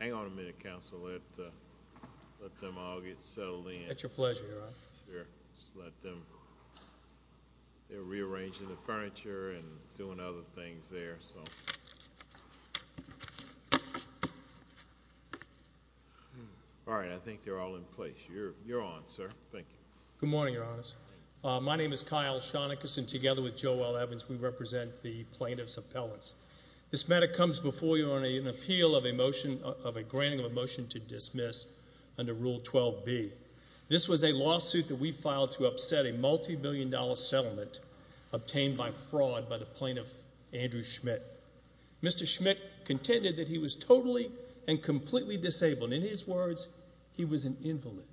Hang on a minute, Counselor. Let them all get settled in. It's your pleasure, Your Honor. Sure. Just let them—they're rearranging the furniture and doing other things there. All right. I think they're all in place. You're on, sir. Thank you. Good morning, Your Honors. My name is Kyle Shonekas, and together with Joel Evans, we represent the Plaintiff's Appellants. This matter comes before you on an appeal of a motion—of a granting of a motion to dismiss under Rule 12b. This was a lawsuit that we filed to upset a multibillion-dollar settlement obtained by fraud by the plaintiff, Andrew Schmitt. Mr. Schmitt contended that he was totally and completely disabled. In his words, he was an invalid.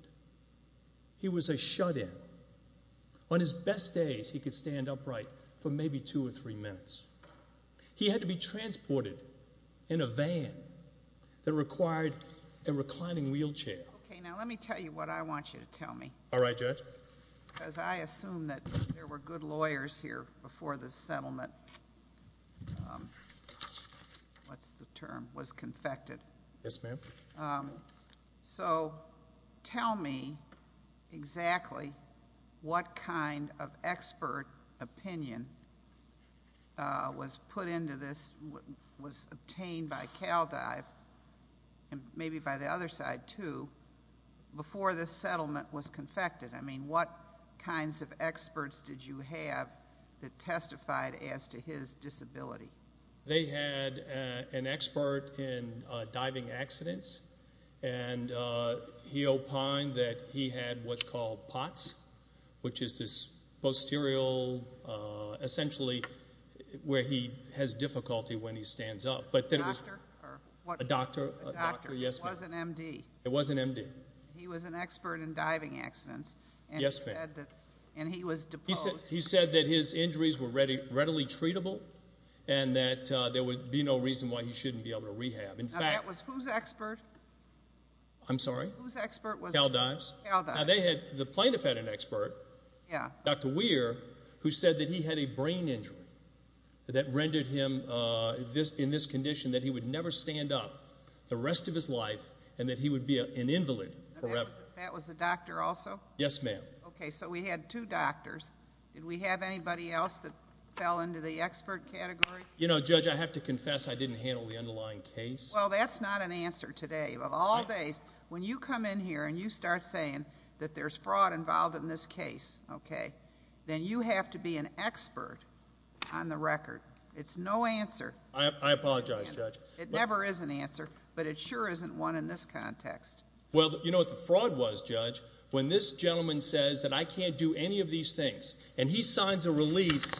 He was a shut-in. On his best days, he could stand upright for maybe two or three minutes. He had to be transported in a van that required a reclining wheelchair. Okay. Now let me tell you what I want you to tell me. All right, Judge. Because I assume that there were good lawyers here before this settlement—what's the term—was confected. Yes, ma'am. So tell me exactly what kind of expert opinion was put into this—was obtained by CalDive, and maybe by the other side, too, before this settlement was confected. I mean, what kinds of experts did you have that testified as to his disability? They had an expert in diving accidents, and he opined that he had what's called POTS, which is this posterior—essentially where he has difficulty when he stands up. A doctor? A doctor, yes, ma'am. It was an M.D. It was an M.D. He was an expert in diving accidents. Yes, ma'am. And he was deposed. He said that his injuries were readily treatable and that there would be no reason why he shouldn't be able to rehab. In fact— Now, that was whose expert? I'm sorry? Whose expert was it? CalDive's? CalDive's. Now, they had—the plaintiff had an expert, Dr. Weir, who said that he had a brain injury that rendered him, in this condition, that he would never stand up the rest of his life and that he would be an invalid forever. That was the doctor also? Yes, ma'am. Okay, so we had two doctors. Did we have anybody else that fell into the expert category? You know, Judge, I have to confess I didn't handle the underlying case. Well, that's not an answer today. Of all days, when you come in here and you start saying that there's fraud involved in this case, okay, then you have to be an expert on the record. It's no answer. I apologize, Judge. It never is an answer, but it sure isn't one in this context. Well, you know what the fraud was, Judge? When this gentleman says that I can't do any of these things, and he signs a release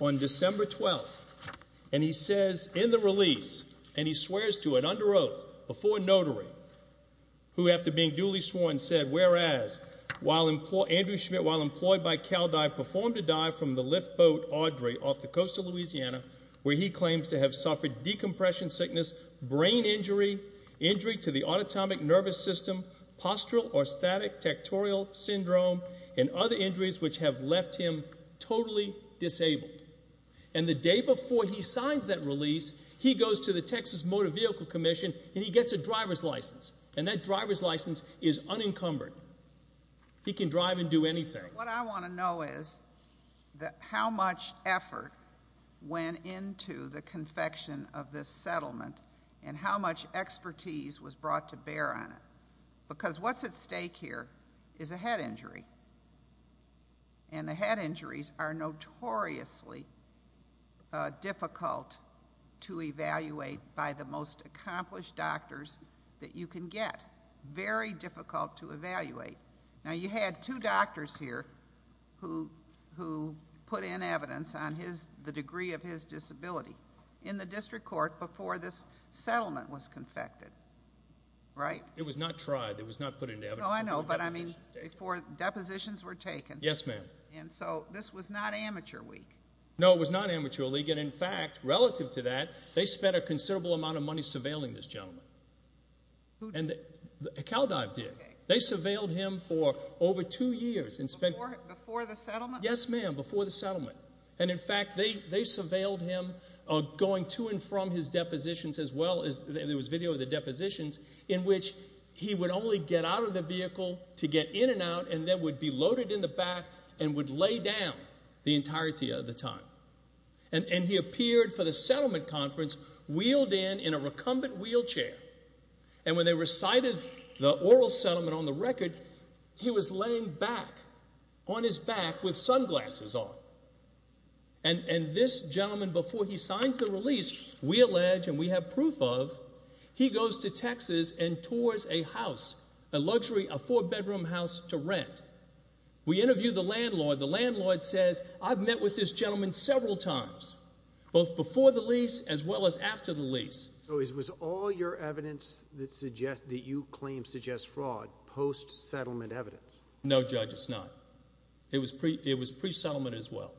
on December 12th, and he says in the release, and he swears to it, under oath, before a notary, who after being duly sworn said, whereas, Andrew Schmidt, while employed by CalDive, performed a dive from the lift boat Audrey off the coast of Louisiana, where he claims to have suffered decompression sickness, brain injury, injury to the autotomic nervous system, postural or static tectorial syndrome, and other injuries which have left him totally disabled. And the day before he signs that release, he goes to the Texas Motor Vehicle Commission, and he gets a driver's license, and that driver's license is unencumbered. He can drive and do anything. What I want to know is how much effort went into the confection of this settlement and how much expertise was brought to bear on it. Because what's at stake here is a head injury, and the head injuries are notoriously difficult to evaluate by the most accomplished doctors that you can get. Very difficult to evaluate. Now, you had two doctors here who put in evidence on the degree of his disability. In the district court before this settlement was confected, right? It was not tried. It was not put into evidence. No, I know, but I mean before depositions were taken. Yes, ma'am. And so this was not amateur week. No, it was not amateur week, and in fact, relative to that, they spent a considerable amount of money surveilling this gentleman. CalDive did. They surveilled him for over two years. Before the settlement? Yes, ma'am, before the settlement. And, in fact, they surveilled him going to and from his depositions as well, and there was video of the depositions, in which he would only get out of the vehicle to get in and out and then would be loaded in the back and would lay down the entirety of the time. And he appeared for the settlement conference wheeled in in a recumbent wheelchair, and when they recited the oral settlement on the record, he was laying back on his back with sunglasses on. And this gentleman, before he signs the release, we allege, and we have proof of, he goes to Texas and tours a house, a luxury, a four-bedroom house to rent. We interview the landlord. The landlord says, I've met with this gentleman several times, both before the lease as well as after the lease. So it was all your evidence that you claim suggests fraud post-settlement evidence? No, Judge, it's not. It was pre-settlement as well.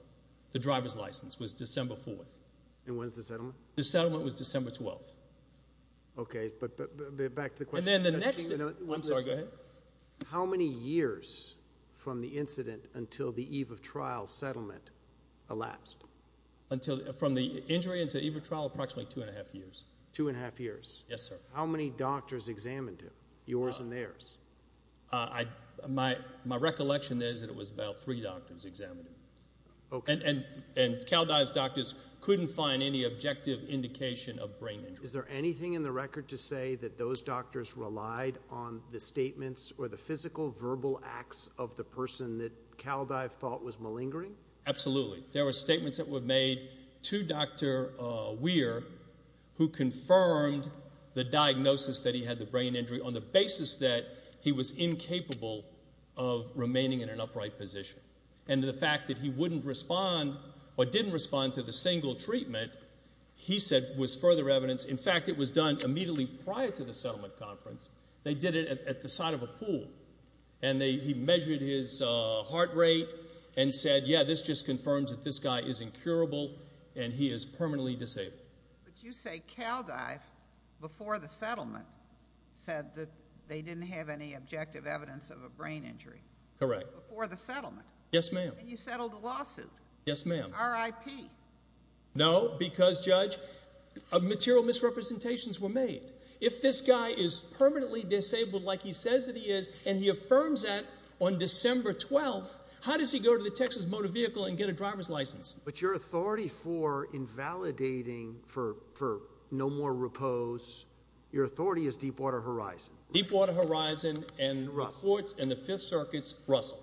The driver's license was December 4th. And when was the settlement? The settlement was December 12th. Okay, but back to the question. I'm sorry, go ahead. How many years from the incident until the eve of trial settlement elapsed? From the injury until eve of trial, approximately two and a half years. Two and a half years? Yes, sir. How many doctors examined him, yours and theirs? My recollection is that it was about three doctors examined him. And CalDive's doctors couldn't find any objective indication of brain injury. Is there anything in the record to say that those doctors relied on the statements or the physical verbal acts of the person that CalDive thought was malingering? Absolutely. There were statements that were made to Dr. Weir who confirmed the diagnosis that he had the brain injury on the basis that he was incapable of remaining in an upright position. And the fact that he wouldn't respond or didn't respond to the single treatment, he said, was further evidence. In fact, it was done immediately prior to the settlement conference. They did it at the side of a pool. And he measured his heart rate and said, yeah, this just confirms that this guy is incurable and he is permanently disabled. But you say CalDive, before the settlement, said that they didn't have any objective evidence of a brain injury? Correct. Before the settlement? Yes, ma'am. And you settled the lawsuit? Yes, ma'am. RIP? No, because, Judge, material misrepresentations were made. If this guy is permanently disabled, like he says that he is, and he affirms that on December 12th, how does he go to the Texas Motor Vehicle and get a driver's license? But your authority for invalidating for no more repose, your authority is Deepwater Horizon. Deepwater Horizon and the ports and the Fifth Circuit's Russell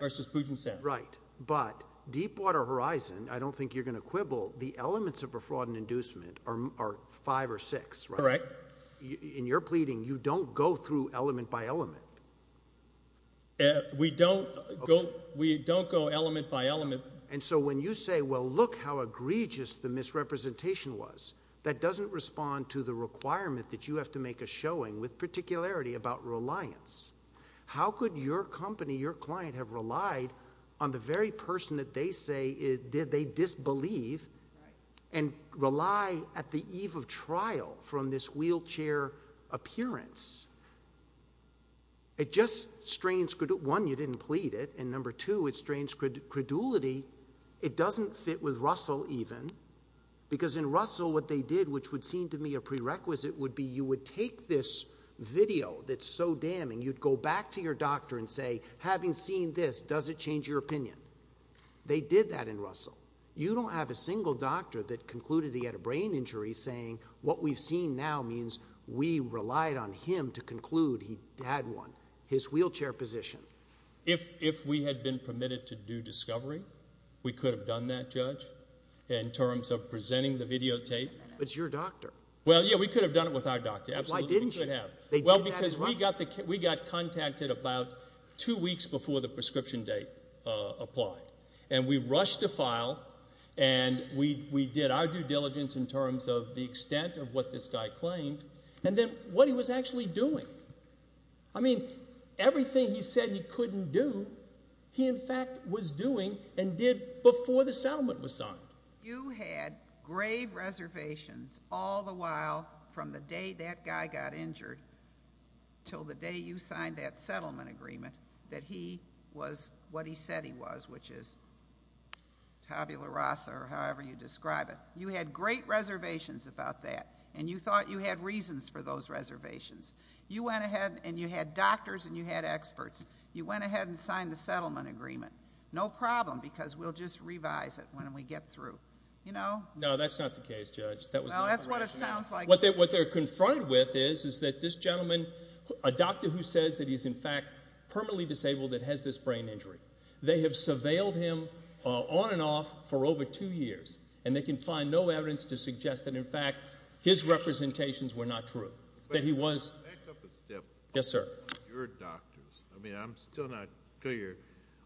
versus Puget Sound. Right. But Deepwater Horizon, I don't think you're going to quibble, the elements of a fraud and inducement are five or six, right? Correct. In your pleading, you don't go through element by element? We don't go element by element. And so when you say, well, look how egregious the misrepresentation was, that doesn't respond to the requirement that you have to make a showing, with particularity about reliance. How could your company, your client, have relied on the very person that they say they disbelieve and rely at the eve of trial from this wheelchair appearance? It just strains, one, you didn't plead it, and number two, it strains credulity. It doesn't fit with Russell even, because in Russell what they did, which would seem to me a prerequisite, would be you would take this video that's so damning, you'd go back to your doctor and say, having seen this, does it change your opinion? They did that in Russell. You don't have a single doctor that concluded he had a brain injury saying, what we've seen now means we relied on him to conclude he had one, his wheelchair position. If we had been permitted to do discovery, we could have done that, Judge, in terms of presenting the videotape. But it's your doctor. Well, yeah, we could have done it with our doctor, absolutely. Why didn't you? Well, because we got contacted about two weeks before the prescription date applied, and we rushed a file and we did our due diligence in terms of the extent of what this guy claimed and then what he was actually doing. I mean, everything he said he couldn't do, he in fact was doing and did before the settlement was signed. You had grave reservations all the while, from the day that guy got injured until the day you signed that settlement agreement, that he was what he said he was, which is tabula rasa or however you describe it. You had great reservations about that, and you thought you had reasons for those reservations. You went ahead and you had doctors and you had experts. You went ahead and signed the settlement agreement. No problem, because we'll just revise it when we get through. No, that's not the case, Judge. That's what it sounds like. What they're confronted with is that this gentleman, a doctor who says that he's in fact permanently disabled, that has this brain injury. They have surveilled him on and off for over two years, and they can find no evidence to suggest that, in fact, his representations were not true, that he was. Back up a step. Yes, sir. Your doctors. I mean, I'm still not clear.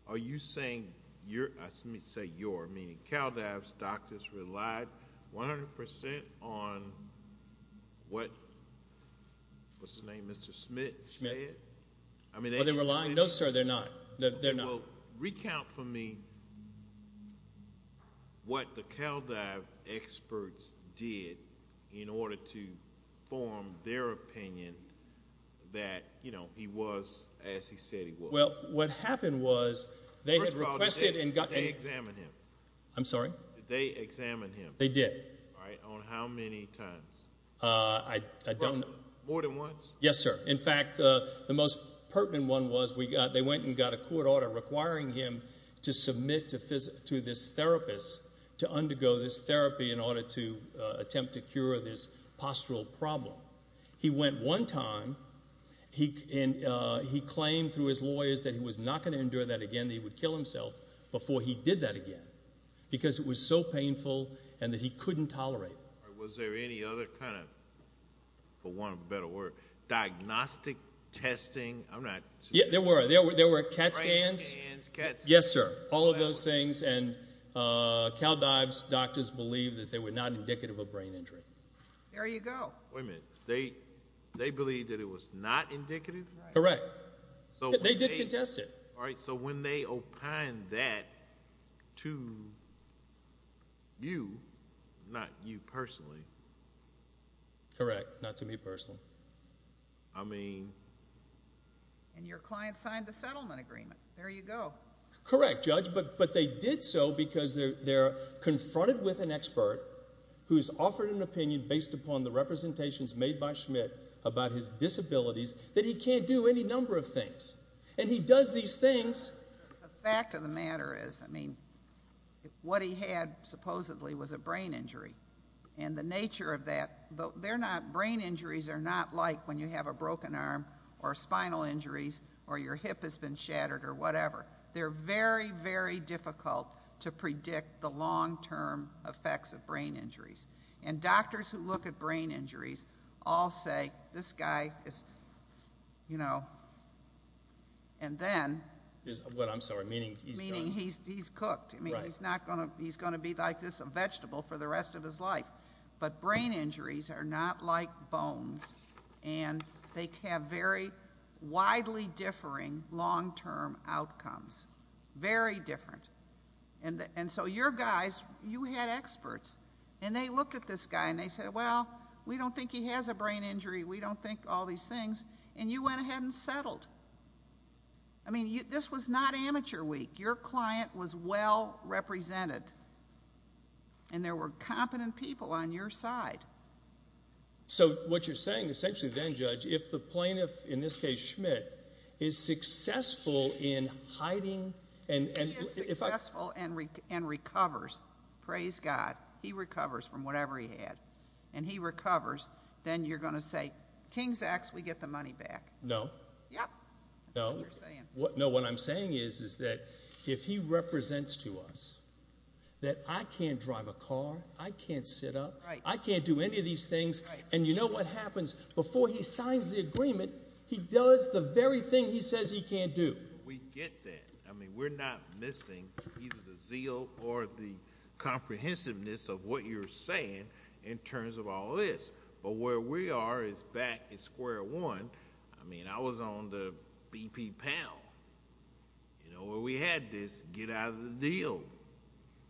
Are you saying your, let me say your, meaning CalDAV's doctors, relied 100% on what, what's his name, Mr. Smith said? Well, they were lying? No, sir, they're not. They're not. Well, recount for me what the CalDAV experts did in order to form their opinion that he was as he said he was. Well, what happened was they had requested and got... First of all, did they examine him? I'm sorry? Did they examine him? They did. On how many times? I don't... More than once? Yes, sir. In fact, the most pertinent one was they went and got a court order requiring him to submit to this therapist to undergo this therapy in order to attempt to cure this postural problem. He went one time, and he claimed through his lawyers that he was not going to endure that again, that he would kill himself before he did that again because it was so painful and that he couldn't tolerate it. Was there any other kind of, for want of a better word, diagnostic testing? I'm not... Yes, there were. There were CAT scans. Brain scans, CAT scans. Yes, sir, all of those things, and CalDAV's doctors believed that they were not indicative of brain injury. There you go. Wait a minute. They believed that it was not indicative? Correct. They did contest it. All right, so when they opined that to you, not you personally... Correct, not to me personally. I mean... And your client signed the settlement agreement. There you go. Correct, Judge, but they did so because they're confronted with an expert who's offered an opinion based upon the representations made by Schmidt about his disabilities that he can't do any number of things, and he does these things. The fact of the matter is, I mean, what he had supposedly was a brain injury, and the nature of that, brain injuries are not like when you have a broken arm or spinal injuries or your hip has been shattered or whatever. They're very, very difficult to predict the long-term effects of brain injuries, and doctors who look at brain injuries all say this guy is, you know, and then... I'm sorry, meaning he's... Meaning he's cooked. Right. I mean, he's going to be like this, a vegetable for the rest of his life, but brain injuries are not like bones, and they have very widely differing long-term outcomes, very different. And so your guys, you had experts, and they looked at this guy and they said, well, we don't think he has a brain injury, we don't think all these things, and you went ahead and settled. I mean, this was not amateur week. Your client was well represented, and there were competent people on your side. So what you're saying essentially then, Judge, if the plaintiff, in this case Schmidt, is successful in hiding... If he is successful and recovers, praise God, he recovers from whatever he had, and he recovers, then you're going to say, King's X, we get the money back. No. Yep. No. That's what you're saying. No, what I'm saying is that if he represents to us that I can't drive a car, I can't sit up, I can't do any of these things, and you know what happens? Before he signs the agreement, he does the very thing he says he can't do. We get that. I mean, we're not missing either the zeal or the comprehensiveness of what you're saying in terms of all this, but where we are is back at square one. I mean, I was on the BP panel, you know, where we had this get out of the deal.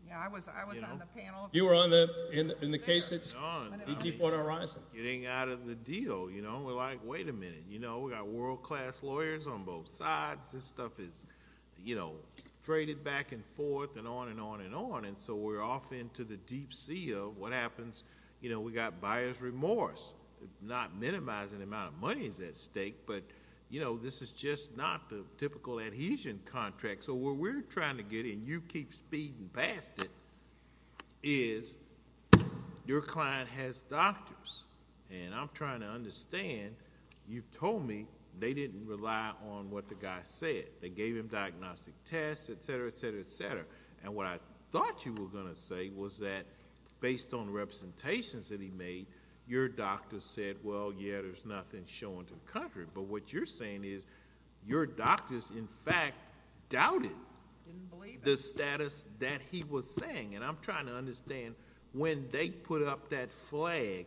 Yeah, I was on the panel... You were on the case that's on the Deepwater Horizon. Getting out of the deal, you know. We're like, wait a minute. We've got world-class lawyers on both sides. This stuff is, you know, traded back and forth and on and on and on, and so we're off into the deep sea of what happens. You know, we've got buyer's remorse, not minimizing the amount of money that's at stake, but, you know, this is just not the typical adhesion contract. So what we're trying to get, and you keep speeding past it, is your client has doctors, and I'm trying to understand, you've told me they didn't rely on what the guy said. They gave him diagnostic tests, et cetera, et cetera, et cetera, and what I thought you were going to say was that based on representations that he made, your doctor said, well, yeah, there's nothing showing to the contrary, but what you're saying is your doctors, in fact, doubted the status that he was saying, and I'm trying to understand when they put up that flag,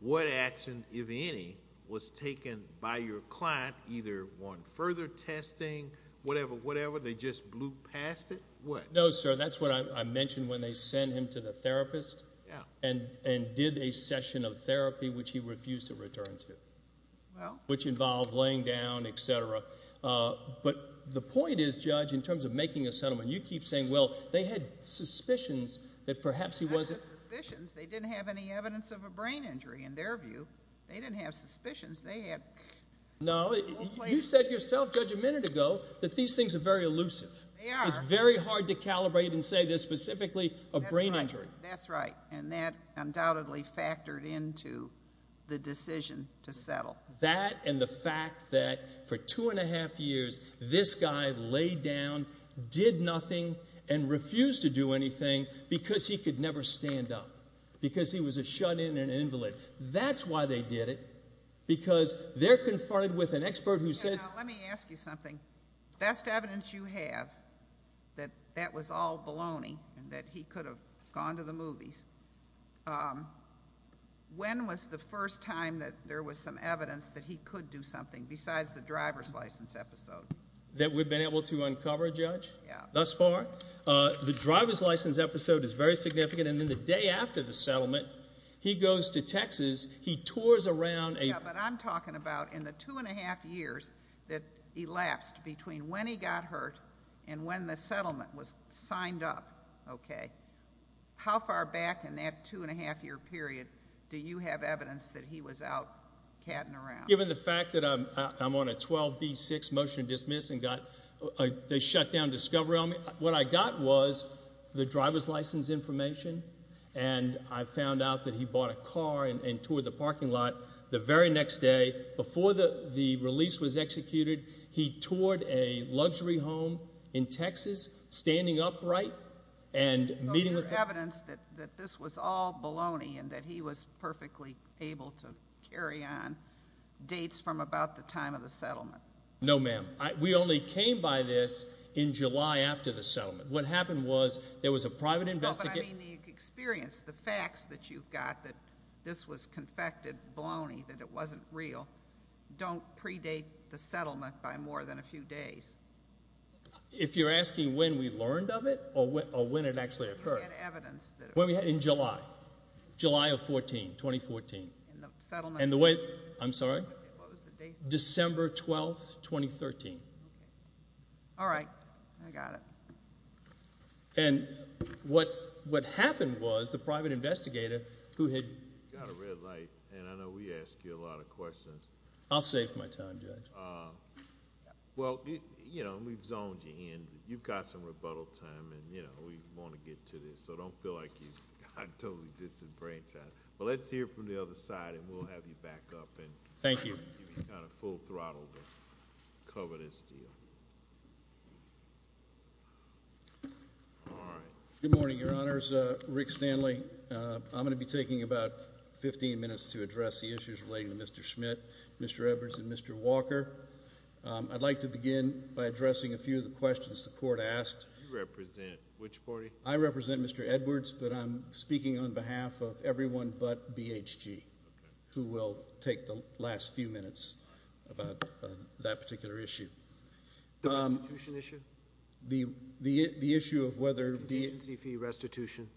what action, if any, was taken by your client, either on further testing, whatever, whatever, they just blew past it? No, sir, that's what I mentioned when they sent him to the therapist and did a session of therapy, which he refused to return to, which involved laying down, et cetera. But the point is, Judge, in terms of making a settlement, you keep saying, well, they had suspicions that perhaps he wasn't. They didn't have any suspicions. They didn't have any evidence of a brain injury, in their view. They didn't have suspicions. No, you said yourself, Judge, a minute ago, that these things are very elusive. They are. It's very hard to calibrate and say there's specifically a brain injury. That's right, and that undoubtedly factored into the decision to settle. That and the fact that for two and a half years, this guy laid down, did nothing, and refused to do anything because he could never stand up, because he was a shut-in and an invalid. That's why they did it, because they're confronted with an expert who says... Let me ask you something. Best evidence you have that that was all baloney and that he could have gone to the movies, when was the first time that there was some evidence that he could do something, besides the driver's license episode? That we've been able to uncover, Judge, thus far? Yeah. The driver's license episode is very significant, and then the day after the settlement, he goes to Texas, he tours around a... Yeah, but I'm talking about in the two and a half years that elapsed between when he got hurt and when the settlement was signed up, okay? How far back in that two and a half year period do you have evidence that he was out catting around? Given the fact that I'm on a 12B6 motion to dismiss and got the shutdown discovery on me, what I got was the driver's license information, and I found out that he bought a car and toured the parking lot. The very next day, before the release was executed, he toured a luxury home in Texas, standing upright and meeting with... So there's evidence that this was all baloney and that he was perfectly able to carry on dates from about the time of the settlement? No, ma'am. We only came by this in July after the settlement. What happened was there was a private investigator... No, but I mean the experience, the facts that you've got that this was confected, baloney, that it wasn't real. Don't predate the settlement by more than a few days. If you're asking when we learned of it or when it actually occurred... You had evidence that... In July, July of 2014. In the settlement... And the way... I'm sorry? What was the date? December 12, 2013. All right, I got it. And what happened was the private investigator, who had... You've got a red light, and I know we ask you a lot of questions. I'll save my time, Judge. Well, we've zoned you in. You've got some rebuttal time, and we want to get to this, so don't feel like you've got totally disenfranchised. But let's hear from the other side, and we'll have you back up and... Thank you. Give me kind of full throttle to cover this deal. All right. Good morning, Your Honors. Rick Stanley. I'm going to be taking about 15 minutes to address the issues relating to Mr. Schmidt, Mr. Edwards, and Mr. Walker. I'd like to begin by addressing a few of the questions the Court asked. You represent which party? I represent Mr. Edwards, but I'm speaking on behalf of everyone but BHG... Okay.... who will take the last few minutes about that particular issue. The restitution issue? The issue of whether... Contingency fee restitution?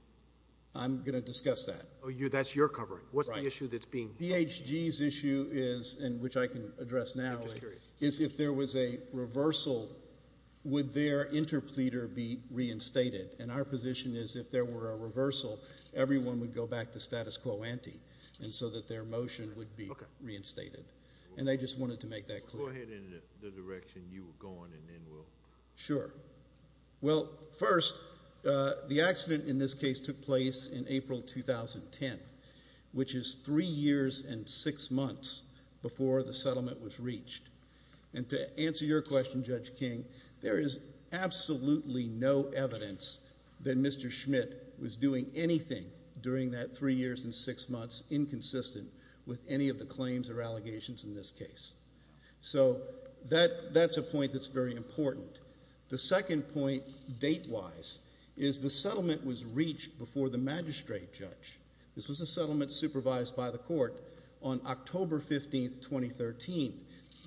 I'm going to discuss that. Oh, that's your covering? Right. What's the issue that's being... BHG's issue is, and which I can address now... I'm just curious.... is if there was a reversal, would their interpleader be reinstated? And, our position is, if there were a reversal, everyone would go back to status quo ante, and so that their motion would be reinstated. Okay. And, I just wanted to make that clear. Go ahead in the direction you were going, and then we'll... Sure. Well, first, the accident in this case took place in April 2010, which is three years and six months before the settlement was reached. And, to answer your question, Judge King, there is absolutely no evidence that Mr. Schmidt was doing anything during that three years and six months, inconsistent with any of the claims or allegations in this case. So, that's a point that's very important. The second point, date-wise, is the settlement was reached before the magistrate judge. This was a settlement supervised by the court on October 15, 2013.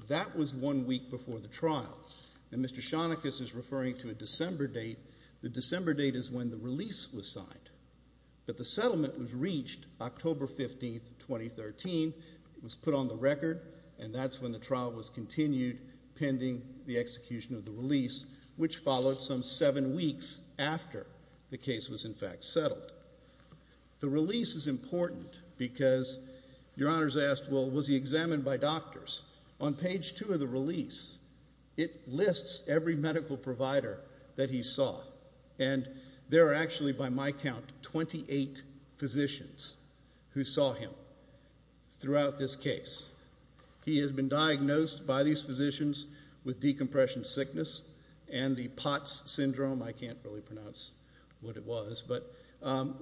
That was one week before the trial. And, Mr. Shonekas is referring to a December date. The December date is when the release was signed. But, the settlement was reached October 15, 2013. It was put on the record, and that's when the trial was continued, pending the execution of the release, which followed some seven weeks after the case was, in fact, settled. The release is important because, your honors asked, well, was he examined by doctors? On page two of the release, it lists every medical provider that he saw. And, there are actually, by my count, 28 physicians who saw him throughout this case. He has been diagnosed by these physicians with decompression sickness and the Potts Syndrome. I can't really pronounce what it was, but,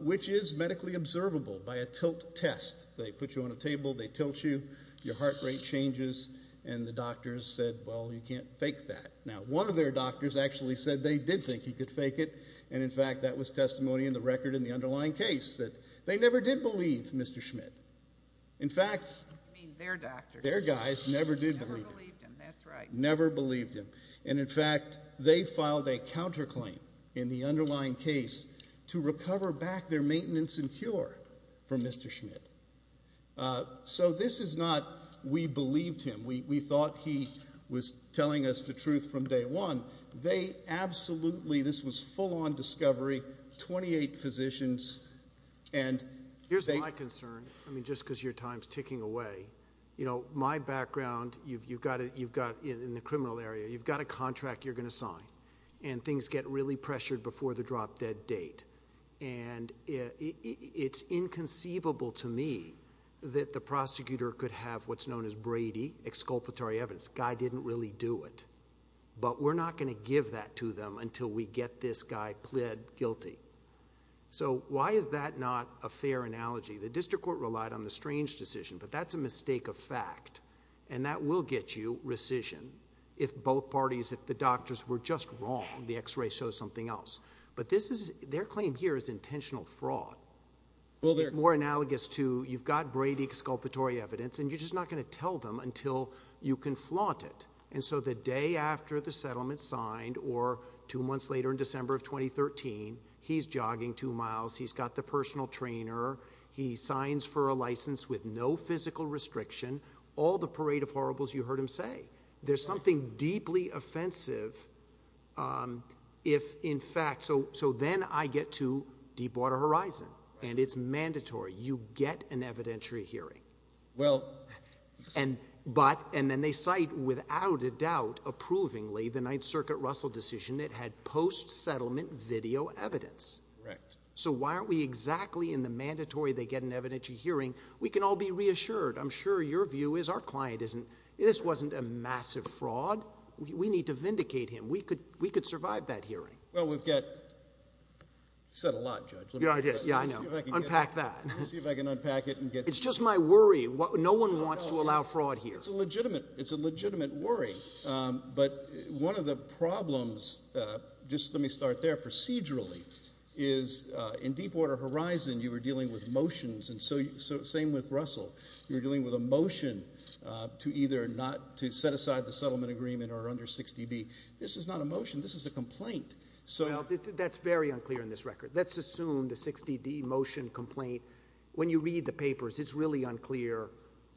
which is medically observable by a tilt test. They put you on a table, they tilt you, your heart rate changes, and the doctors said, well, you can't fake that. Now, one of their doctors actually said they did think he could fake it. And, in fact, that was testimony in the record in the underlying case, that they never did believe Mr. Schmidt. In fact, their guys never did believe him. Never believed him, that's right. Never believed him. And, in fact, they filed a counterclaim in the underlying case to recover back their maintenance and cure from Mr. Schmidt. So, this is not, we believed him, we thought he was telling us the truth from day one. They absolutely, this was full on discovery, 28 physicians. Here's my concern, I mean, just because your time's ticking away. You know, my background, you've got, in the criminal area, you've got a contract you're going to sign. And things get really pressured before the drop dead date. And it's inconceivable to me that the prosecutor could have what's known as Brady, exculpatory evidence. Guy didn't really do it. But we're not going to give that to them until we get this guy pled guilty. So, why is that not a fair analogy? The district court relied on the strange decision. But that's a mistake of fact. And that will get you rescission if both parties, if the doctors were just wrong. The x-ray shows something else. But this is, their claim here is intentional fraud. More analogous to, you've got Brady exculpatory evidence and you're just not going to tell them until you can flaunt it. And so the day after the settlement's signed, or two months later in December of 2013, he's jogging two miles. He's got the personal trainer. He signs for a license with no physical restriction. All the parade of horribles you heard him say. There's something deeply offensive if, in fact, so then I get to Deepwater Horizon. And it's mandatory. You get an evidentiary hearing. But, and then they cite, without a doubt, approvingly, the Ninth Circuit Russell decision that had post-settlement video evidence. So why aren't we exactly in the mandatory they get an evidentiary hearing? We can all be reassured. I'm sure your view is, our client isn't, this wasn't a massive fraud. We need to vindicate him. We could survive that hearing. Well, we've got, you said a lot, Judge. Yeah, I did. Yeah, I know. Unpack that. Let me see if I can unpack it. It's just my worry. No one wants to allow fraud here. It's a legitimate worry. But one of the problems, just let me start there procedurally, is in Deepwater Horizon you were dealing with motions. And so, same with Russell. You're dealing with a motion to either not, to set aside the settlement agreement or under 60D. This is not a motion. This is a complaint. Well, that's very unclear in this record. Let's assume the 60D motion complaint, when you read the papers, it's really unclear.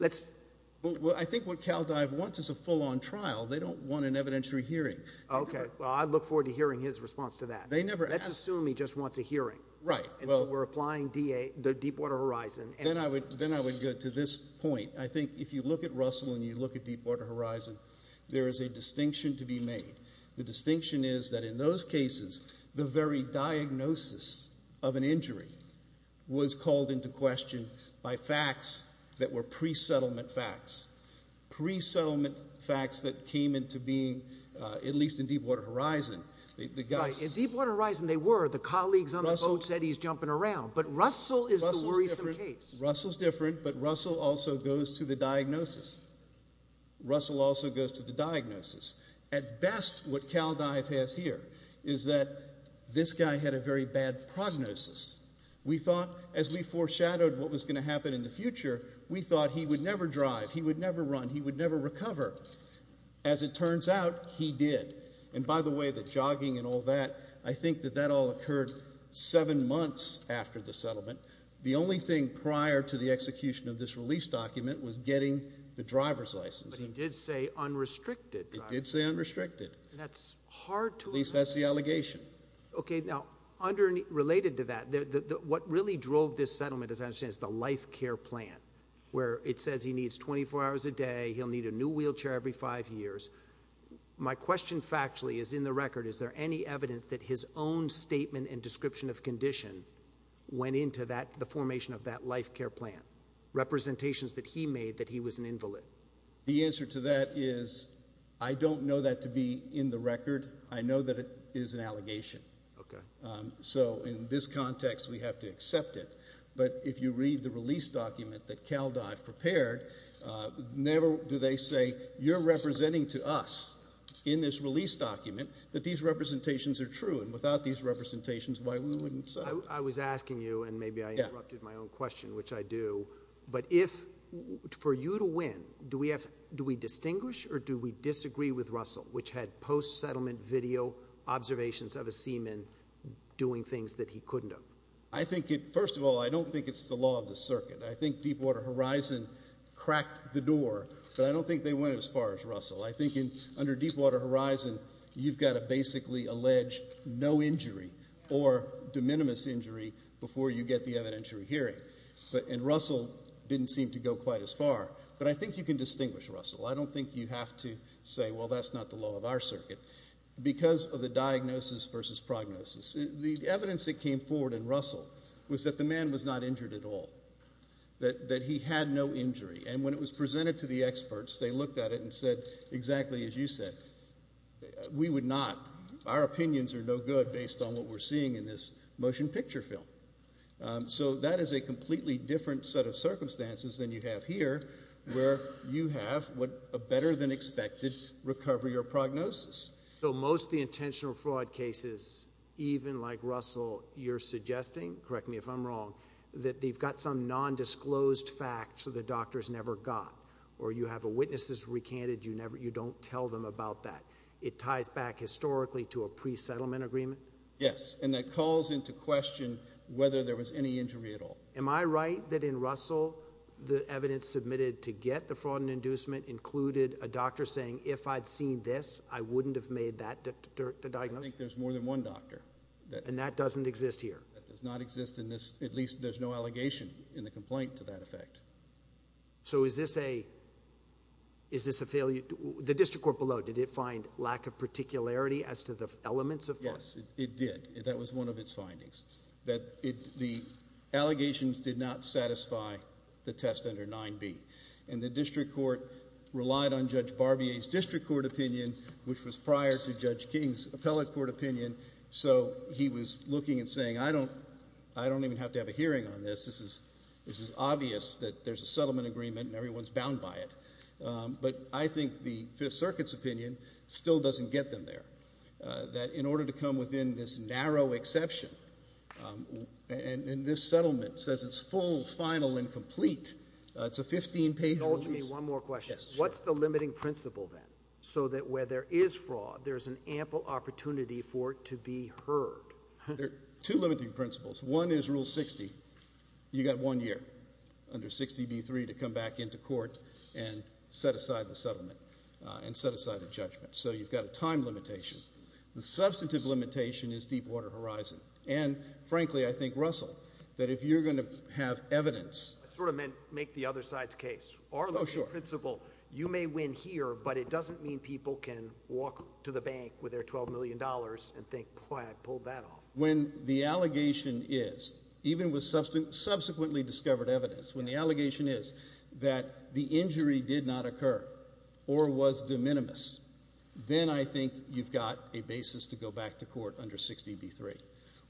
Well, I think what CalDive wants is a full-on trial. They don't want an evidentiary hearing. Okay. Well, I look forward to hearing his response to that. They never asked. Let's assume he just wants a hearing. Right. And so we're applying the Deepwater Horizon. Then I would go to this point. I think if you look at Russell and you look at Deepwater Horizon, there is a distinction to be made. The distinction is that in those cases the very diagnosis of an injury was called into question by facts that were pre-settlement facts, pre-settlement facts that came into being, at least in Deepwater Horizon. Right. In Deepwater Horizon they were. The colleagues on the boat said he's jumping around. But Russell is the worrisome case. Russell's different, but Russell also goes to the diagnosis. Russell also goes to the diagnosis. At best what CalDive has here is that this guy had a very bad prognosis. We thought, as we foreshadowed what was going to happen in the future, we thought he would never drive, he would never run, he would never recover. As it turns out, he did. And, by the way, the jogging and all that, I think that that all occurred seven months after the settlement. The only thing prior to the execution of this release document was getting the driver's license. But he did say unrestricted driving. He did say unrestricted. That's hard to understand. At least that's the allegation. Okay, now, related to that, what really drove this settlement, as I understand it, is the life care plan, where it says he needs 24 hours a day, he'll need a new wheelchair every five years. My question factually is in the record, is there any evidence that his own statement and description of condition went into the formation of that life care plan, representations that he made that he was an invalid? The answer to that is I don't know that to be in the record. I know that it is an allegation. Okay. So, in this context, we have to accept it. But if you read the release document that CalDive prepared, never do they say, you're representing to us in this release document that these representations are true. And without these representations, why wouldn't we say? I was asking you, and maybe I interrupted my own question, which I do, but for you to win, do we distinguish or do we disagree with Russell, which had post-settlement video observations of a seaman doing things that he couldn't have? First of all, I don't think it's the law of the circuit. I think Deepwater Horizon cracked the door, but I don't think they went as far as Russell. I think under Deepwater Horizon, you've got to basically allege no injury or de minimis injury before you get the evidentiary hearing. And Russell didn't seem to go quite as far. But I think you can distinguish Russell. I don't think you have to say, well, that's not the law of our circuit, because of the diagnosis versus prognosis. The evidence that came forward in Russell was that the man was not injured at all, that he had no injury. And when it was presented to the experts, they looked at it and said exactly as you said. We would not. Our opinions are no good based on what we're seeing in this motion picture film. So that is a completely different set of circumstances than you have here, where you have a better than expected recovery or prognosis. So most of the intentional fraud cases, even like Russell, you're suggesting, correct me if I'm wrong, that they've got some nondisclosed facts that the doctors never got, or you have witnesses recanted, you don't tell them about that. It ties back historically to a pre-settlement agreement? Yes, and that calls into question whether there was any injury at all. Am I right that in Russell, the evidence submitted to get the fraud and inducement included a doctor saying, if I'd seen this, I wouldn't have made that diagnosis? I think there's more than one doctor. And that doesn't exist here? That does not exist in this. At least there's no allegation in the complaint to that effect. So is this a failure? The district court below, did it find lack of particularity as to the elements of fraud? Yes, it did. That was one of its findings, that the allegations did not satisfy the test under 9B. And the district court relied on Judge Barbier's district court opinion, which was prior to Judge King's appellate court opinion, so he was looking and saying, I don't even have to have a hearing on this. This is obvious that there's a settlement agreement and everyone's bound by it. But I think the Fifth Circuit's opinion still doesn't get them there, that in order to come within this narrow exception, and this settlement says it's full, final, and complete, it's a 15-page release. One more question. What's the limiting principle then, so that where there is fraud, there's an ample opportunity for it to be heard? There are two limiting principles. One is Rule 60. You've got one year under 60B.3 to come back into court and set aside the settlement and set aside the judgment. So you've got a time limitation. The substantive limitation is Deepwater Horizon. And, frankly, I think, Russell, that if you're going to have evidence. I sort of meant make the other side's case. Our limiting principle, you may win here, but it doesn't mean people can walk to the bank with their $12 million and think, Boy, I pulled that off. When the allegation is, even with subsequently discovered evidence, when the allegation is that the injury did not occur or was de minimis, then I think you've got a basis to go back to court under 60B.3.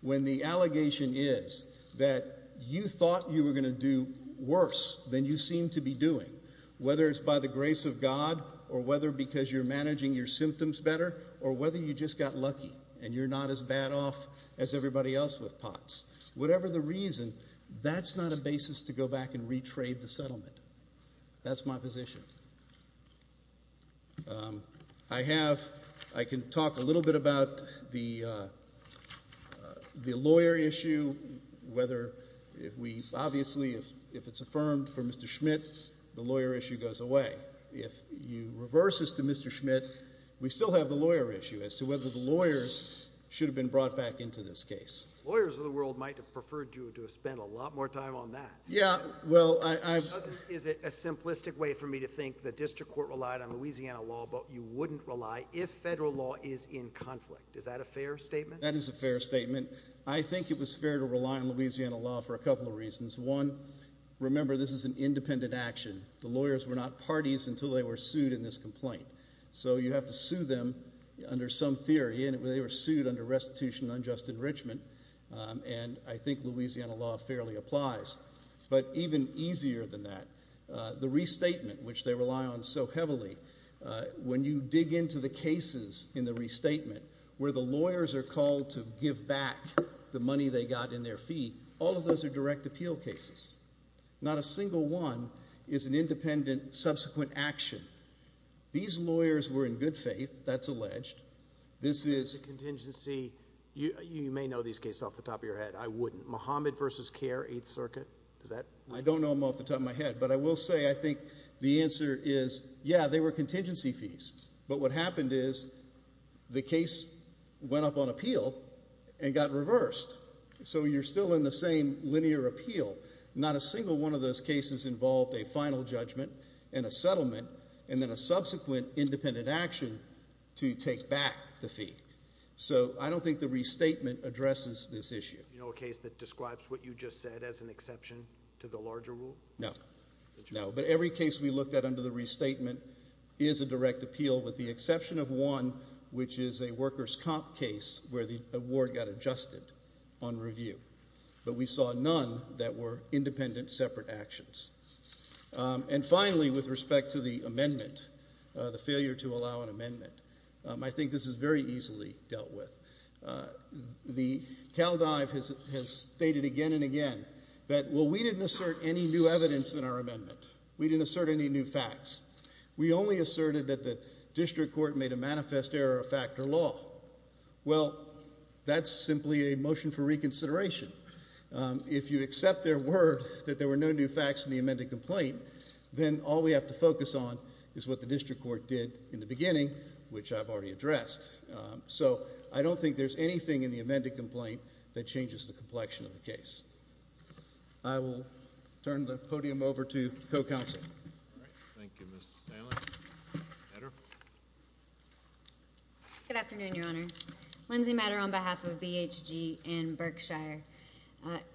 When the allegation is that you thought you were going to do worse than you seem to be doing, whether it's by the grace of God or whether because you're managing your symptoms better or whether you just got lucky and you're not as bad off as everybody else with POTS, whatever the reason, that's not a basis to go back and retrade the settlement. That's my position. I can talk a little bit about the lawyer issue. Obviously, if it's affirmed for Mr. Schmidt, the lawyer issue goes away. If you reverse this to Mr. Schmidt, we still have the lawyer issue as to whether the lawyers should have been brought back into this case. Lawyers of the world might have preferred you to have spent a lot more time on that. Is it a simplistic way for me to think the district court relied on Louisiana law but you wouldn't rely if federal law is in conflict? Is that a fair statement? That is a fair statement. I think it was fair to rely on Louisiana law for a couple of reasons. One, remember this is an independent action. The lawyers were not parties until they were sued in this complaint, so you have to sue them under some theory, and they were sued under restitution and unjust enrichment, and I think Louisiana law fairly applies. But even easier than that, the restatement, which they rely on so heavily, when you dig into the cases in the restatement where the lawyers are called to give back the money they got in their fee, all of those are direct appeal cases. Not a single one is an independent subsequent action. These lawyers were in good faith. That's alleged. This is contingency. You may know these cases off the top of your head. I wouldn't. Mohammed v. Care, 8th Circuit. I don't know them off the top of my head, but I will say I think the answer is, yeah, they were contingency fees, but what happened is the case went up on appeal and got reversed. So you're still in the same linear appeal. Not a single one of those cases involved a final judgment and a settlement and then a subsequent independent action to take back the fee. So I don't think the restatement addresses this issue. Do you know a case that describes what you just said as an exception to the larger rule? No. But every case we looked at under the restatement is a direct appeal with the exception of one, which is a workers' comp case where the award got adjusted on review. But we saw none that were independent separate actions. And finally, with respect to the amendment, the failure to allow an amendment, I think this is very easily dealt with. The Cal Dive has stated again and again that, well, we didn't assert any new evidence in our amendment. We didn't assert any new facts. We only asserted that the district court made a manifest error of fact or law. Well, that's simply a motion for reconsideration. If you accept their word that there were no new facts in the amended complaint, then all we have to focus on is what the district court did in the beginning, which I've already addressed. So I don't think there's anything in the amended complaint that changes the complexion of the case. I will turn the podium over to co-counsel. Thank you, Mr. Stanley. Edder. Good afternoon, Your Honors. Lindsay Matter on behalf of BHG and Berkshire.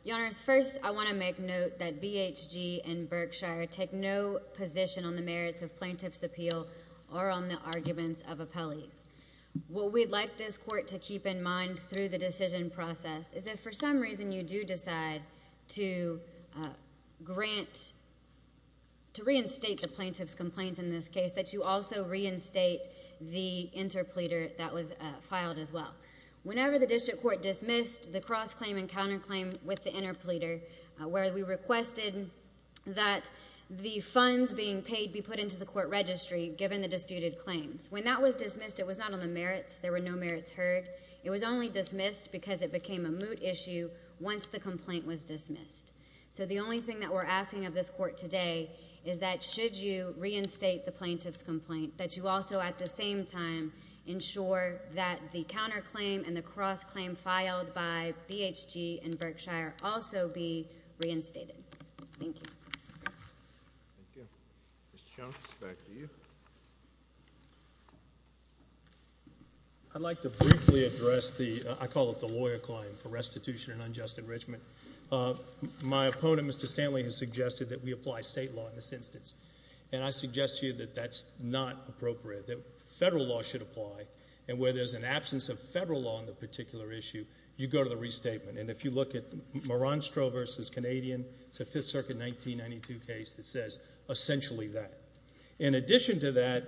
Your Honors, first I want to make note that BHG and Berkshire take no position on the merits of plaintiff's appeal or on the arguments of appellees. What we'd like this court to keep in mind through the decision process is if for some reason you do decide to grant, to reinstate the plaintiff's complaint in this case, that you also reinstate the interpleader that was filed as well. Whenever the district court dismissed the cross-claim and counter-claim with the interpleader, where we requested that the funds being paid be put into the court registry given the disputed claims. When that was dismissed, it was not on the merits. There were no merits heard. It was only dismissed because it became a moot issue once the complaint was dismissed. So the only thing that we're asking of this court today is that should you reinstate the plaintiff's complaint, that you also at the same time ensure that the counter-claim and the cross-claim filed by BHG and Berkshire also be reinstated. Thank you. Thank you. Mr. Jones, back to you. I'd like to briefly address the, I call it the lawyer claim for restitution and unjust enrichment. My opponent, Mr. Stanley, has suggested that we apply state law in this instance, and I suggest to you that that's not appropriate, that federal law should apply, and where there's an absence of federal law on the particular issue, you go to the restatement. And if you look at Maranstro versus Canadian, it's a Fifth Circuit 1992 case that says essentially that. In addition to that,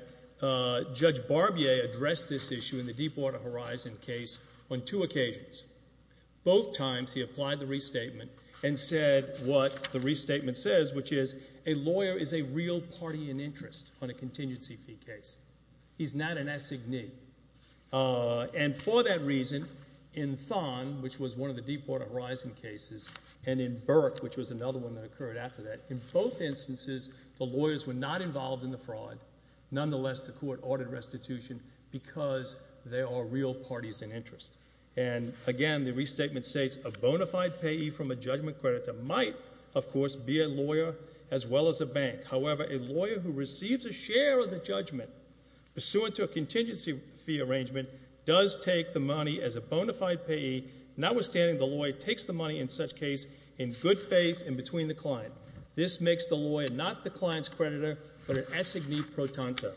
Judge Barbier addressed this issue in the Deepwater Horizon case on two occasions. Both times he applied the restatement and said what the restatement says, which is a lawyer is a real party in interest on a contingency fee case. He's not an assignee. And for that reason, in Thon, which was one of the Deepwater Horizon cases, and in Berks, which was another one that occurred after that, in both instances, the lawyers were not involved in the fraud. Nonetheless, the court ordered restitution because they are real parties in interest. And, again, the restatement states, a bona fide payee from a judgment creditor might, of course, be a lawyer as well as a bank. However, a lawyer who receives a share of the judgment, pursuant to a contingency fee arrangement, does take the money as a bona fide payee. Notwithstanding, the lawyer takes the money in such case in good faith in between the client. This makes the lawyer not the client's creditor, but an assignee pro tonto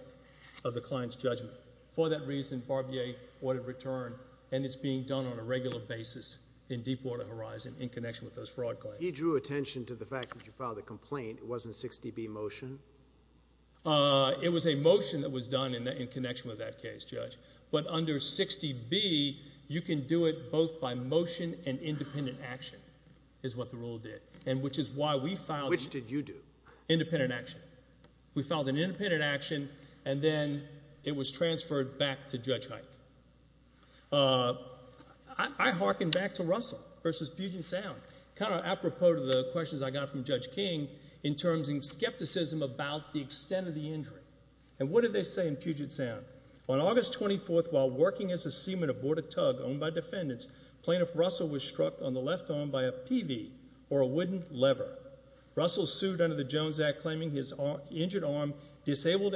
of the client's judgment. For that reason, Barbier ordered return, and it's being done on a regular basis in Deepwater Horizon in connection with those fraud claims. He drew attention to the fact that you filed a complaint. It wasn't a 60B motion? It was a motion that was done in connection with that case, Judge. But under 60B, you can do it both by motion and independent action is what the rule did, which is why we filed an independent action. Which did you do? We filed an independent action, and then it was transferred back to Judge Hike. I hearken back to Russell versus Puget Sound, kind of apropos to the questions I got from Judge King in terms of skepticism about the extent of the injury. And what did they say in Puget Sound? On August 24th, while working as a seaman aboard a tug owned by defendants, plaintiff Russell was struck on the left arm by a PV or a wooden lever. Russell sued under the Jones Act, claiming his injured arm disabled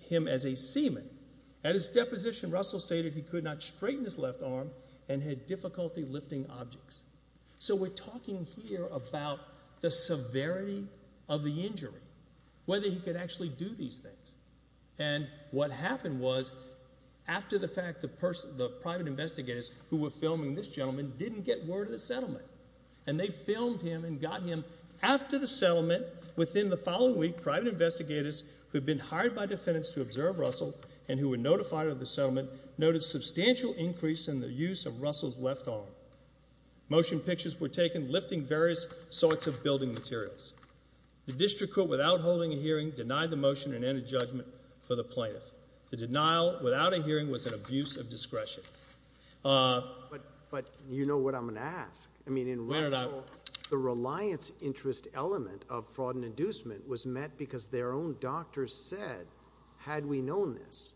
him as a seaman. At his deposition, Russell stated he could not straighten his left arm and had difficulty lifting objects. So we're talking here about the severity of the injury, whether he could actually do these things. And what happened was, after the fact, the private investigators who were filming this gentleman didn't get word of the settlement. And they filmed him and got him after the settlement, within the following week, the private investigators who had been hired by defendants to observe Russell and who were notified of the settlement noted substantial increase in the use of Russell's left arm. Motion pictures were taken, lifting various sorts of building materials. The district court, without holding a hearing, denied the motion and ended judgment for the plaintiff. The denial, without a hearing, was an abuse of discretion. But you know what I'm going to ask. I mean, in Russell, the reliance interest element of fraud and inducement was met because their own doctors said, had we known this?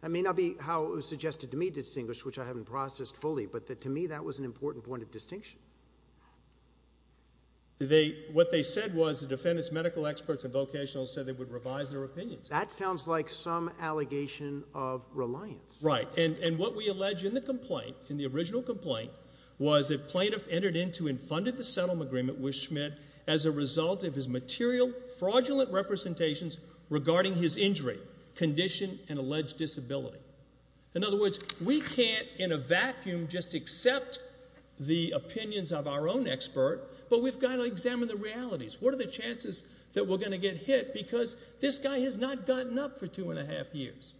That may not be how it was suggested to me to distinguish, which I haven't processed fully, but to me that was an important point of distinction. What they said was the defendant's medical experts and vocational said they would revise their opinions. That sounds like some allegation of reliance. Right, and what we allege in the complaint, in the original complaint, was a plaintiff entered into and funded the settlement agreement with Schmidt as a result of his material, fraudulent representations regarding his injury, condition, and alleged disability. In other words, we can't in a vacuum just accept the opinions of our own expert, but we've got to examine the realities. What are the chances that we're going to get hit? Because this guy has not gotten up for two and a half years.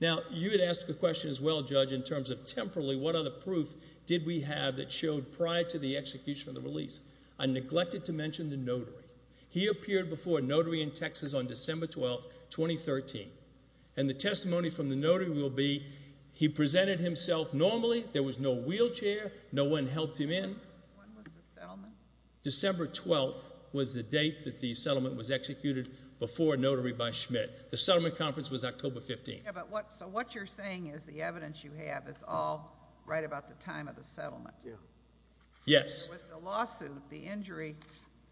Now, you had asked the question as well, Judge, in terms of temporally, what other proof did we have that showed prior to the execution of the release? I neglected to mention the notary. He appeared before a notary in Texas on December 12, 2013, and the testimony from the notary will be he presented himself normally. There was no wheelchair. No one helped him in. When was the settlement? December 12 was the date that the settlement was executed before a notary by Schmidt. The settlement conference was October 15. So what you're saying is the evidence you have is all right about the time of the settlement. Yes. With the lawsuit, the injury,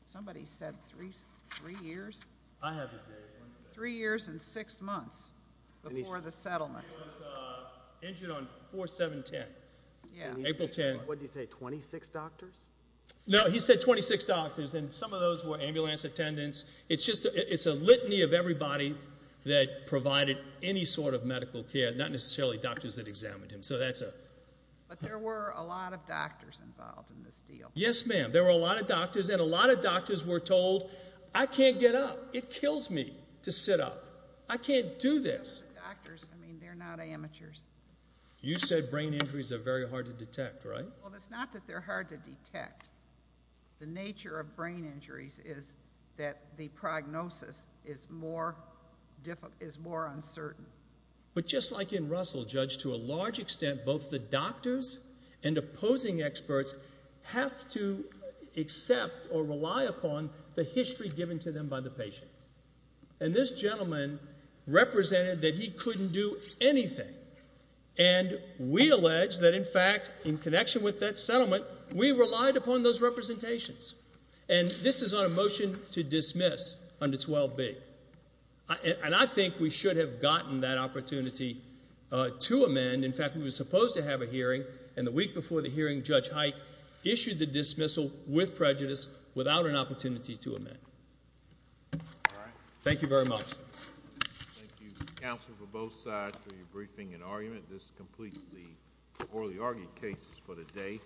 somebody said three years? I have the date. Three years and six months before the settlement. He was injured on 4-7-10, April 10. What did he say, 26 doctors? No, he said 26 doctors, and some of those were ambulance attendants. It's a litany of everybody that provided any sort of medical care, not necessarily doctors that examined him. But there were a lot of doctors involved in this deal. Yes, ma'am. There were a lot of doctors, and a lot of doctors were told, I can't get up. It kills me to sit up. I can't do this. Doctors, I mean, they're not amateurs. You said brain injuries are very hard to detect, right? Well, it's not that they're hard to detect. The nature of brain injuries is that the prognosis is more uncertain. But just like in Russell, Judge, to a large extent, both the doctors and opposing experts have to accept or rely upon the history given to them by the patient. And this gentleman represented that he couldn't do anything. And we allege that, in fact, in connection with that settlement, we relied upon those representations. And this is on a motion to dismiss under 12B. And I think we should have gotten that opportunity to amend. In fact, we were supposed to have a hearing, and the week before the hearing Judge Hike issued the dismissal with prejudice without an opportunity to amend. Thank you very much. Thank you, counsel, for both sides for your briefing and argument. This completes the orally argued cases for the day.